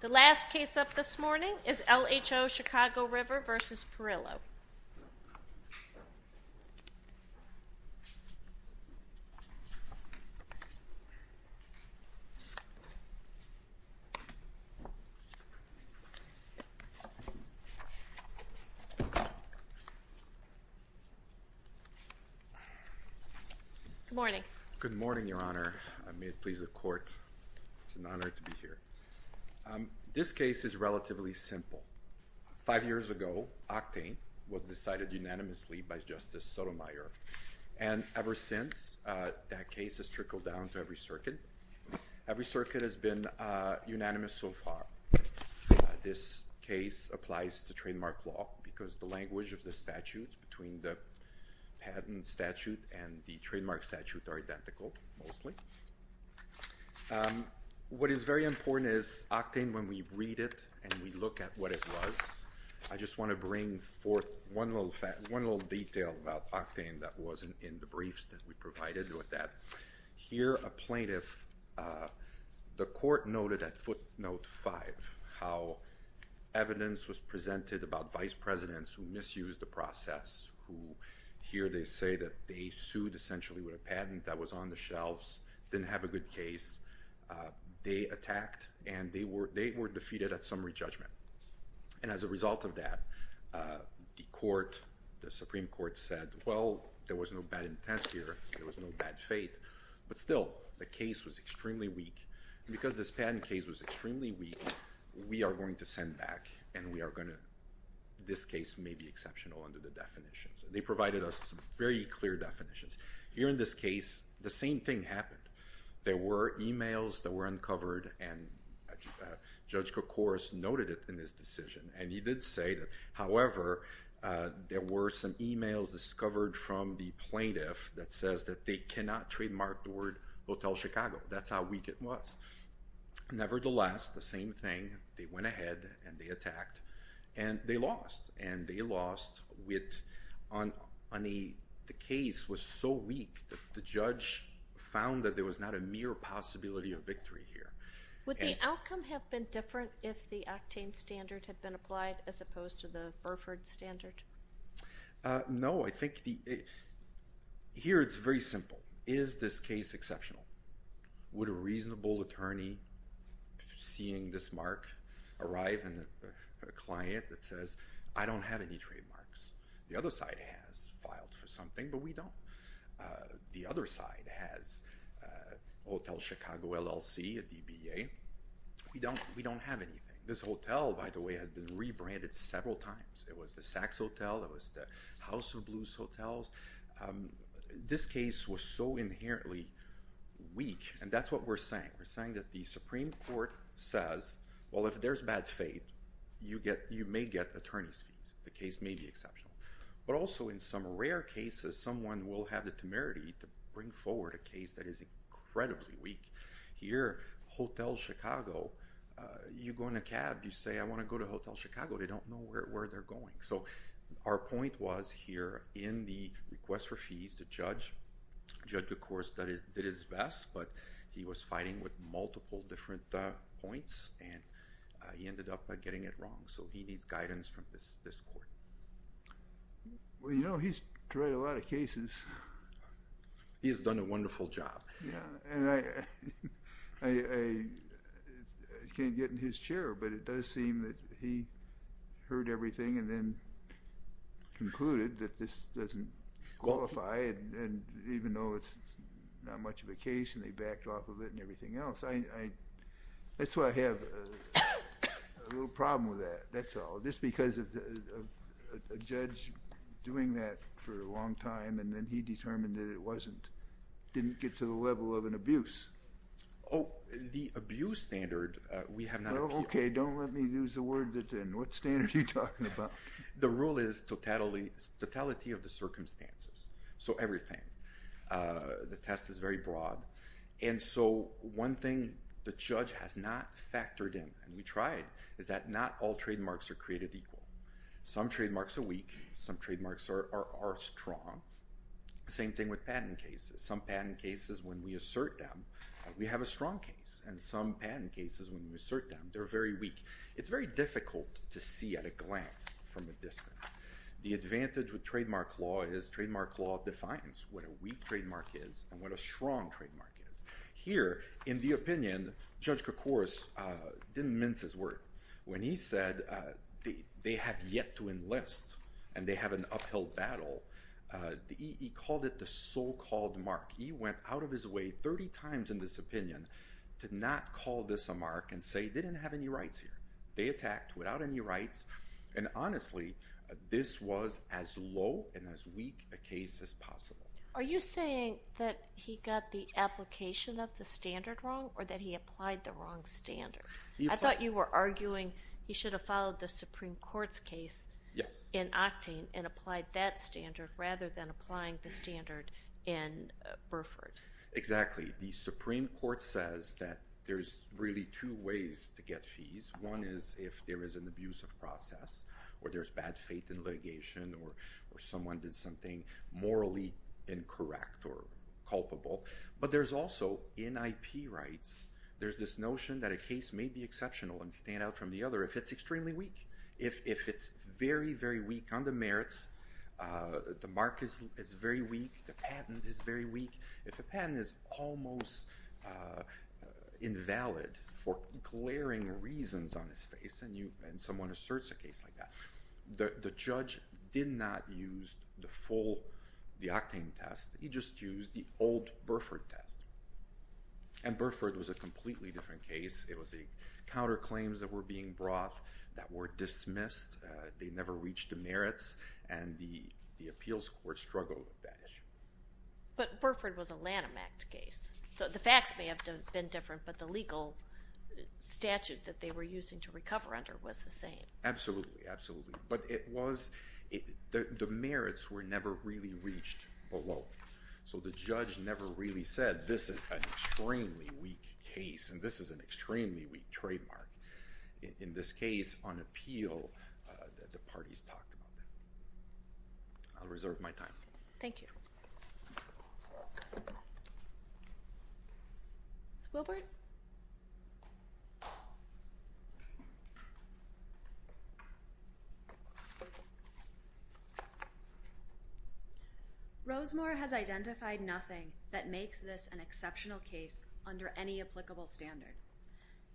The last case up this morning is LHO Chicago River v. Perillo. Good morning. Good morning, Your Honor. May it please the Court, it's an honor to be here. This case is relatively simple. Five years ago, Octane was decided unanimously by Justice Sotomayor. And ever since, that case has trickled down to every circuit. Every circuit has been unanimous so far. This case applies to trademark law because the language of the statutes between the patent statute and the trademark statute are identical, mostly. What is very important is, Octane, when we read it and we look at what it was, I just want to bring forth one little detail about Octane that was in the briefs that we provided with that. Here, a plaintiff, the Court noted at footnote five how evidence was presented about vice presidents who misused the process, who here they say that they sued essentially with a patent that was on the shelves, didn't have a good case. They attacked, and they were defeated at summary judgment. And as a result of that, the Court, the Supreme Court said, well, there was no bad intent here. There was no bad fate. But still, the case was extremely weak. And because this patent case was extremely weak, we are going to send back, and we are going to, this case may be exceptional under the definitions. They provided us very clear definitions. Here in this case, the same thing happened. There were e-mails that were uncovered, and Judge Kokoris noted it in his decision. And he did say that, however, there were some e-mails discovered from the plaintiff that says that they cannot trademark the word Hotel Chicago. That's how weak it was. Nevertheless, the same thing. They went ahead, and they attacked, and they lost. And they lost on a case that was so weak that the judge found that there was not a mere possibility of victory here. Would the outcome have been different if the Actane standard had been applied as opposed to the Burford standard? No. I think here it's very simple. Is this case exceptional? Would a reasonable attorney, seeing this mark, arrive in a client that says, I don't have any trademarks? The other side has filed for something, but we don't. The other side has Hotel Chicago LLC, a DBA. We don't have anything. This hotel, by the way, had been rebranded several times. It was the Saks Hotel. It was the House of Blues Hotels. This case was so inherently weak, and that's what we're saying. We're saying that the Supreme Court says, well, if there's bad faith, you may get attorney's fees. The case may be exceptional. But also, in some rare cases, someone will have the temerity to bring forward a case that is incredibly weak. Here, Hotel Chicago, you go in a cab, you say, I want to go to Hotel Chicago. They don't know where they're going. So our point was here, in the request for fees to judge, judge, of course, did his best, but he was fighting with multiple different points, and he ended up getting it wrong. So he needs guidance from this court. Well, you know, he's tried a lot of cases. He has done a wonderful job. Yeah, and I can't get in his chair, but it does seem that he heard everything and then concluded that this doesn't qualify, and even though it's not much of a case and they backed off of it and everything else. That's why I have a little problem with that. That's all. Just because of a judge doing that for a long time, and then he determined that it wasn't, didn't get to the level of an abuse. Oh, the abuse standard, we have not appealed. Okay, don't let me use the word then. What standard are you talking about? The rule is totality of the circumstances, so everything. The test is very broad. And so one thing the judge has not factored in, and we tried, is that not all trademarks are created equal. Some trademarks are weak. Some trademarks are strong. Same thing with patent cases. Some patent cases, when we assert them, we have a strong case, and some patent cases, when we assert them, they're very weak. It's very difficult to see at a glance from a distance. The advantage with trademark law is trademark law defines what a weak trademark is and what a strong trademark is. Here, in the opinion, Judge Krokoros didn't mince his word. When he said they had yet to enlist and they have an uphill battle, he called it the so-called mark. He went out of his way 30 times in this opinion to not call this a mark and say they didn't have any rights here. They attacked without any rights. And honestly, this was as low and as weak a case as possible. Are you saying that he got the application of the standard wrong or that he applied the wrong standard? I thought you were arguing he should have followed the Supreme Court's case in Octane and applied that standard rather than applying the standard in Burford. Exactly. The Supreme Court says that there's really two ways to get fees. One is if there is an abusive process or there's bad faith in litigation or someone did something morally incorrect or culpable. But there's also, in IP rights, there's this notion that a case may be exceptional and stand out from the other if it's extremely weak. If it's very, very weak on the merits, the mark is very weak, the patent is very weak. If a patent is almost invalid for glaring reasons on its face and someone asserts a case like that, the judge did not use the Octane test. He just used the old Burford test. And Burford was a completely different case. It was the counterclaims that were being brought that were dismissed. They never reached the merits, and the appeals court struggled with that issue. But Burford was a Lanham Act case. The facts may have been different, but the legal statute that they were using to recover under was the same. Absolutely, absolutely. But the merits were never really reached below. So the judge never really said, this is an extremely weak case, and this is an extremely weak trademark. In this case, on appeal, the parties talked about that. I'll reserve my time. Thank you. Ms. Wilbert? Thank you. Rosemore has identified nothing that makes this an exceptional case under any applicable standard.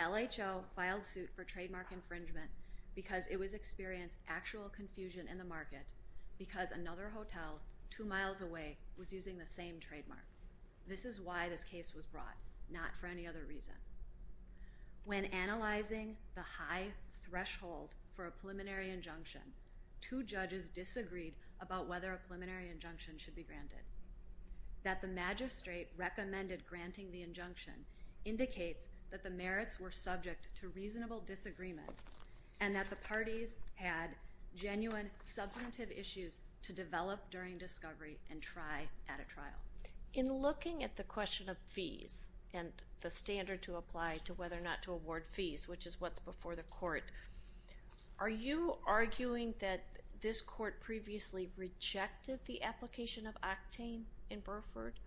LHO filed suit for trademark infringement because it was experiencing actual confusion in the market because another hotel two miles away was using the same trademark. This is why this case was brought, not for any other reason. When analyzing the high threshold for a preliminary injunction, two judges disagreed about whether a preliminary injunction should be granted. That the magistrate recommended granting the injunction indicates that the merits were subject to reasonable disagreement and that the parties had genuine substantive issues to develop during discovery and try at a trial. In looking at the question of fees and the standard to apply to whether or not to award fees, which is what's before the court, are you arguing that this court previously rejected the application of octane in Burford?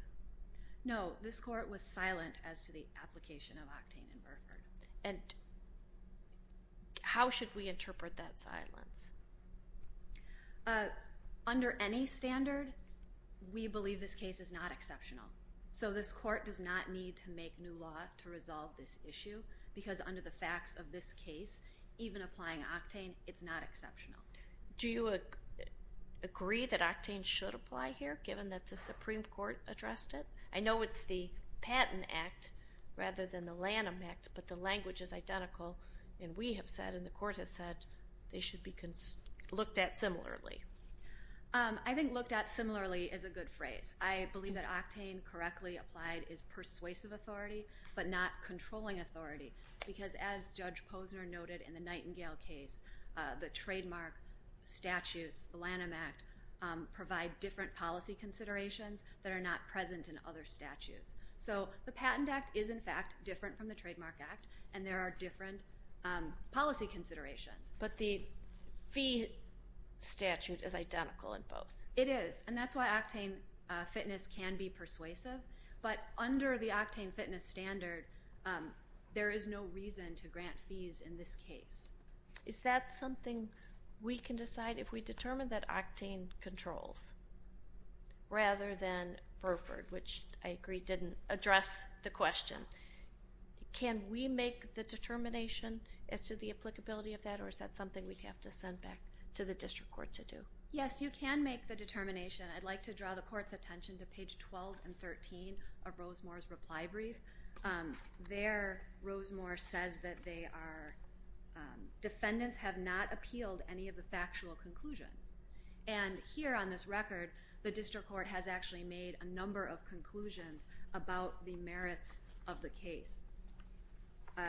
No, this court was silent as to the application of octane in Burford. Under any standard, we believe this case is not exceptional. So this court does not need to make new law to resolve this issue because under the facts of this case, even applying octane, it's not exceptional. Do you agree that octane should apply here given that the Supreme Court addressed it? I know it's the Patent Act rather than the Lanham Act, but the language is identical, and we have said and the court has said they should be looked at similarly. I think looked at similarly is a good phrase. I believe that octane correctly applied is persuasive authority but not controlling authority because as Judge Posner noted in the Nightingale case, the trademark statutes, the Lanham Act, provide different policy considerations that are not present in other statutes. So the Patent Act is, in fact, different from the Trademark Act, and there are different policy considerations. But the fee statute is identical in both. It is, and that's why octane fitness can be persuasive. But under the octane fitness standard, there is no reason to grant fees in this case. Is that something we can decide if we determine that octane controls rather than Burford, which I agree didn't address the question? Can we make the determination as to the applicability of that, or is that something we'd have to send back to the district court to do? Yes, you can make the determination. I'd like to draw the court's attention to page 12 and 13 of Rosemore's reply brief. There, Rosemore says that they are, defendants have not appealed any of the factual conclusions. And here on this record, the district court has actually made a number of conclusions about the merits of the case.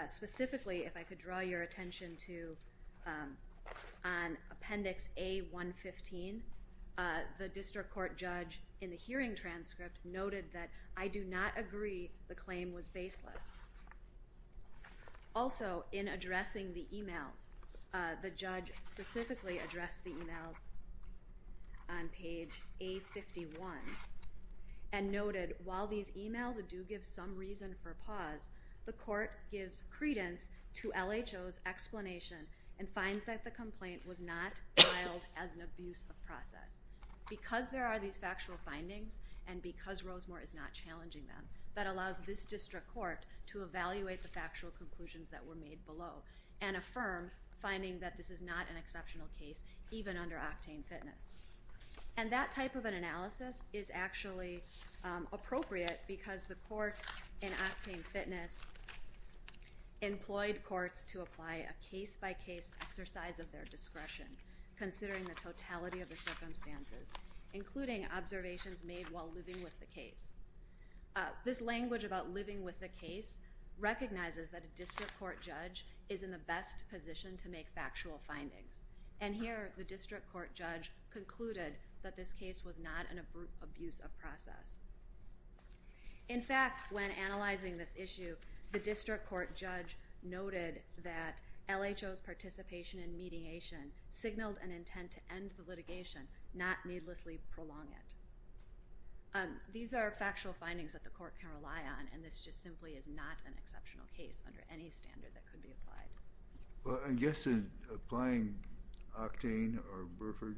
Specifically, if I could draw your attention to Appendix A115, the district court judge in the hearing transcript noted that I do not agree the claim was baseless. Also, in addressing the e-mails, the judge specifically addressed the e-mails on page A51 and noted while these e-mails do give some reason for pause, the court gives credence to LHO's explanation and finds that the complaint was not filed as an abuse of process. Because there are these factual findings and because Rosemore is not challenging them, that allows this district court to evaluate the factual conclusions that were made below and affirm finding that this is not an exceptional case, even under Octane Fitness. And that type of an analysis is actually appropriate because the court in Octane Fitness employed courts to apply a case-by-case exercise of their discretion, considering the totality of the circumstances, including observations made while living with the case. This language about living with the case recognizes that a district court judge is in the best position to make factual findings. And here, the district court judge concluded that this case was not an abuse of process. In fact, when analyzing this issue, the district court judge noted that LHO's participation in mediation signaled an intent to end the litigation, not needlessly prolong it. These are factual findings that the court can rely on, and this just simply is not an exceptional case under any standard that could be applied. I guess in applying Octane or Burford,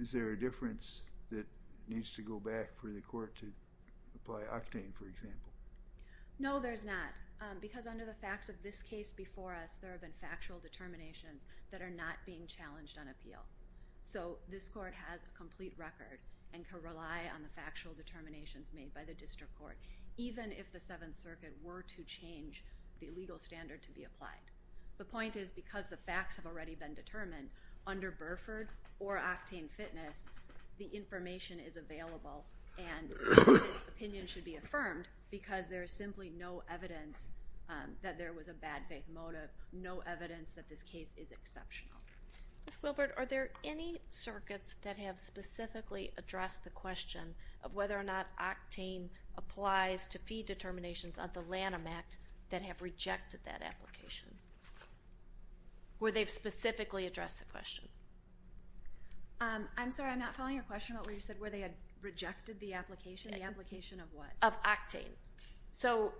is there a difference that needs to go back for the court to apply Octane, for example? No, there's not, because under the facts of this case before us, there have been factual determinations that are not being challenged on appeal. So this court has a complete record and can rely on the factual determinations made by the district court, even if the Seventh Circuit were to change the legal standard to be applied. The point is, because the facts have already been determined, under Burford or Octane Fitness, the information is available, and this opinion should be affirmed because there is simply no evidence that there was a bad faith motive, no evidence that this case is exceptional. Ms. Gilbert, are there any circuits that have specifically addressed the question of whether or not Octane applies to fee determinations of the Lanham Act that have rejected that application? Where they've specifically addressed the question? I'm sorry, I'm not following your question about where you said where they had rejected the application. The application of what? Of Octane. So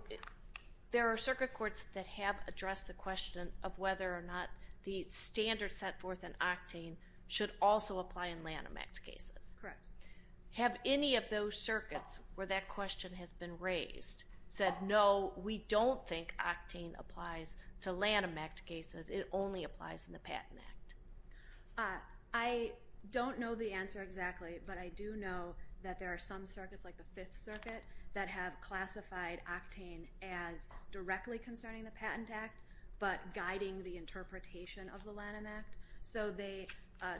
there are circuit courts that have addressed the question of whether or not the standard set forth in Octane should also apply in Lanham Act cases. Correct. Have any of those circuits where that question has been raised said, no, we don't think Octane applies to Lanham Act cases, it only applies in the Patent Act? I don't know the answer exactly, but I do know that there are some circuits, like the Fifth Circuit, that have classified Octane as directly concerning the Patent Act, but guiding the interpretation of the Lanham Act. So they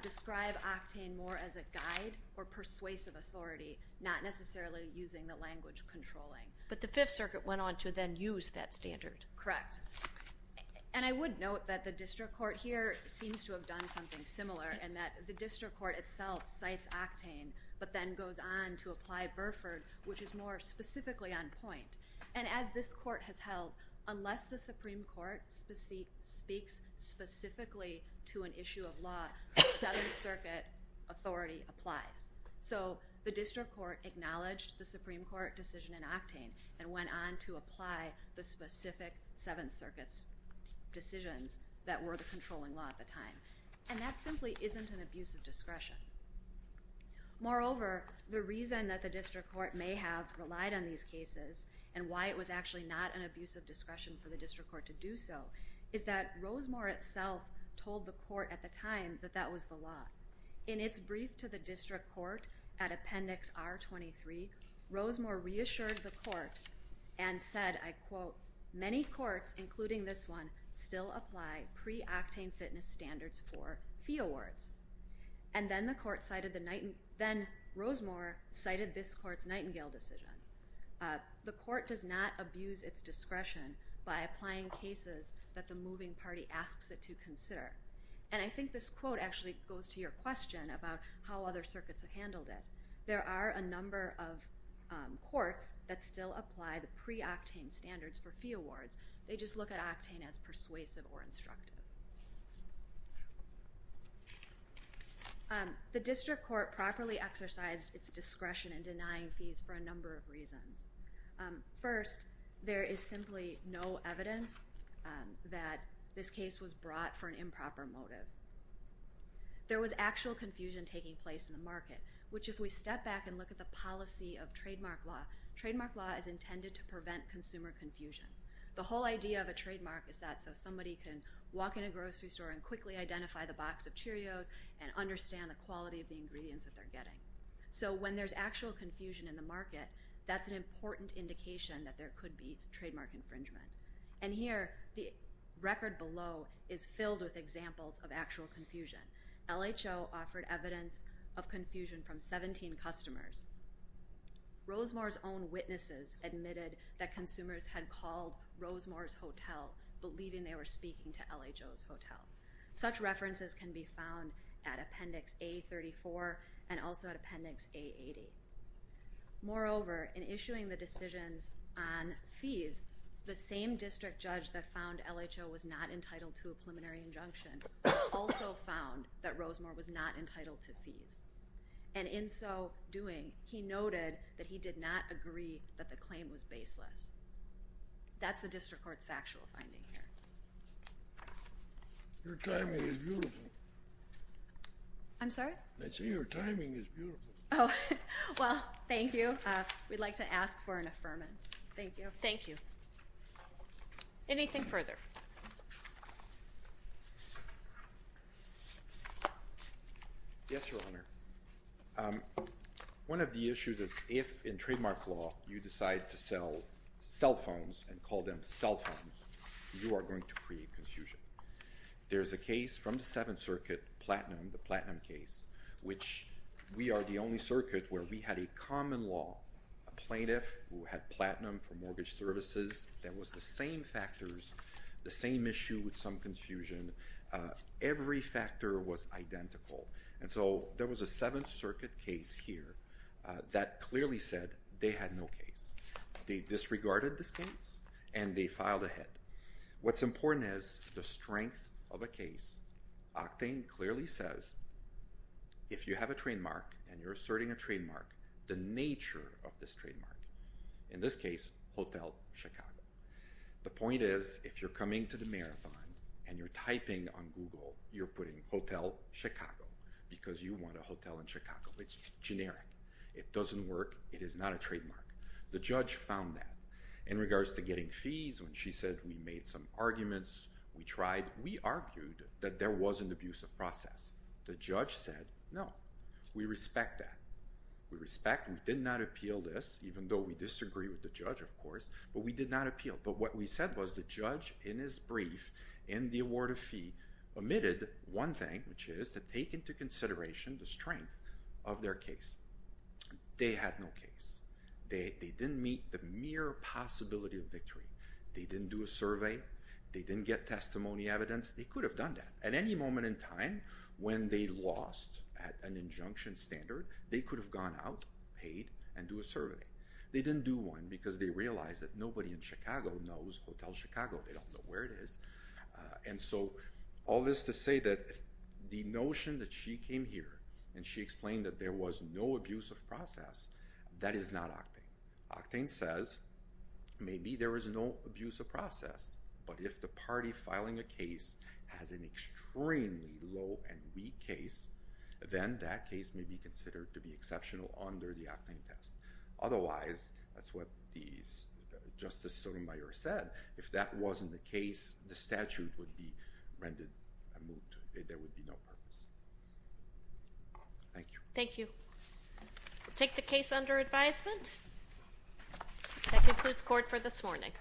describe Octane more as a guide or persuasive authority, not necessarily using the language controlling. But the Fifth Circuit went on to then use that standard. Correct. And I would note that the district court here seems to have done something similar in that the district court itself cites Octane, but then goes on to apply Burford, which is more specifically on point. And as this court has held, unless the Supreme Court speaks specifically to an issue of law, the Seventh Circuit authority applies. So the district court acknowledged the Supreme Court decision in Octane and went on to apply the specific Seventh Circuit's decisions that were the controlling law at the time. And that simply isn't an abuse of discretion. Moreover, the reason that the district court may have relied on these cases and why it was actually not an abuse of discretion for the district court to do so is that Rosemore itself told the court at the time that that was the law. In its brief to the district court at Appendix R23, Rosemore reassured the court and said, I quote, Many courts, including this one, still apply pre-Octane fitness standards for fee awards. And then Rosemore cited this court's Nightingale decision. The court does not abuse its discretion by applying cases that the moving party asks it to consider. And I think this quote actually goes to your question about how other circuits have handled it. There are a number of courts that still apply the pre-Octane standards for fee awards. They just look at Octane as persuasive or instructive. The district court properly exercised its discretion in denying fees for a number of reasons. First, there is simply no evidence that this case was brought for an improper motive. Which if we step back and look at the policy of trademark law, trademark law is intended to prevent consumer confusion. The whole idea of a trademark is that so somebody can walk in a grocery store and quickly identify the box of Cheerios and understand the quality of the ingredients that they're getting. So when there's actual confusion in the market, that's an important indication that there could be trademark infringement. And here, the record below is filled with examples of actual confusion. LHO offered evidence of confusion from 17 customers. Rosemore's own witnesses admitted that consumers had called Rosemore's hotel, believing they were speaking to LHO's hotel. Such references can be found at Appendix A34 and also at Appendix A80. Moreover, in issuing the decisions on fees, the same district judge that found LHO was not entitled to a preliminary injunction also found that Rosemore was not entitled to fees. And in so doing, he noted that he did not agree that the claim was baseless. That's the district court's factual finding here. Your timing is beautiful. I'm sorry? I said your timing is beautiful. Oh, well, thank you. We'd like to ask for an affirmance. Thank you. Thank you. Anything further? Yes, Your Honor. One of the issues is if in trademark law you decide to sell cell phones and call them cell phones, you are going to create confusion. There is a case from the Seventh Circuit, Platinum, the Platinum case, which we are the only circuit where we had a common law, a plaintiff who had Platinum for mortgage services that was the same factors, the same issue with some confusion. Every factor was identical. And so there was a Seventh Circuit case here that clearly said they had no case. They disregarded this case, and they filed a hit. What's important is the strength of a case. Octane clearly says if you have a trademark and you're asserting a trademark, the nature of this trademark, in this case, Hotel Chicago. The point is if you're coming to the marathon and you're typing on Google, you're putting Hotel Chicago because you want a hotel in Chicago. It's generic. It doesn't work. It is not a trademark. The judge found that. In regards to getting fees, when she said we made some arguments, we tried, we argued that there was an abusive process. The judge said no. We respect that. We respect. We did not appeal this, even though we disagree with the judge, of course. But we did not appeal. But what we said was the judge, in his brief, in the award of fee, omitted one thing, which is to take into consideration the strength of their case. They had no case. They didn't meet the mere possibility of victory. They didn't do a survey. They didn't get testimony evidence. They could have done that. At any moment in time, when they lost at an injunction standard, they could have gone out, paid, and do a survey. They didn't do one because they realized that nobody in Chicago knows Hotel Chicago. They don't know where it is. And so all this to say that the notion that she came here and she explained that there was no abusive process, that is not Octane. Octane says maybe there is no abusive process, but if the party filing a case has an extremely low and weak case, then that case may be considered to be exceptional under the Octane test. Otherwise, that's what Justice Sotomayor said, if that wasn't the case, the statute would be rendered a moot. There would be no purpose. Thank you. Thank you. We'll take the case under advisement. That concludes court for this morning.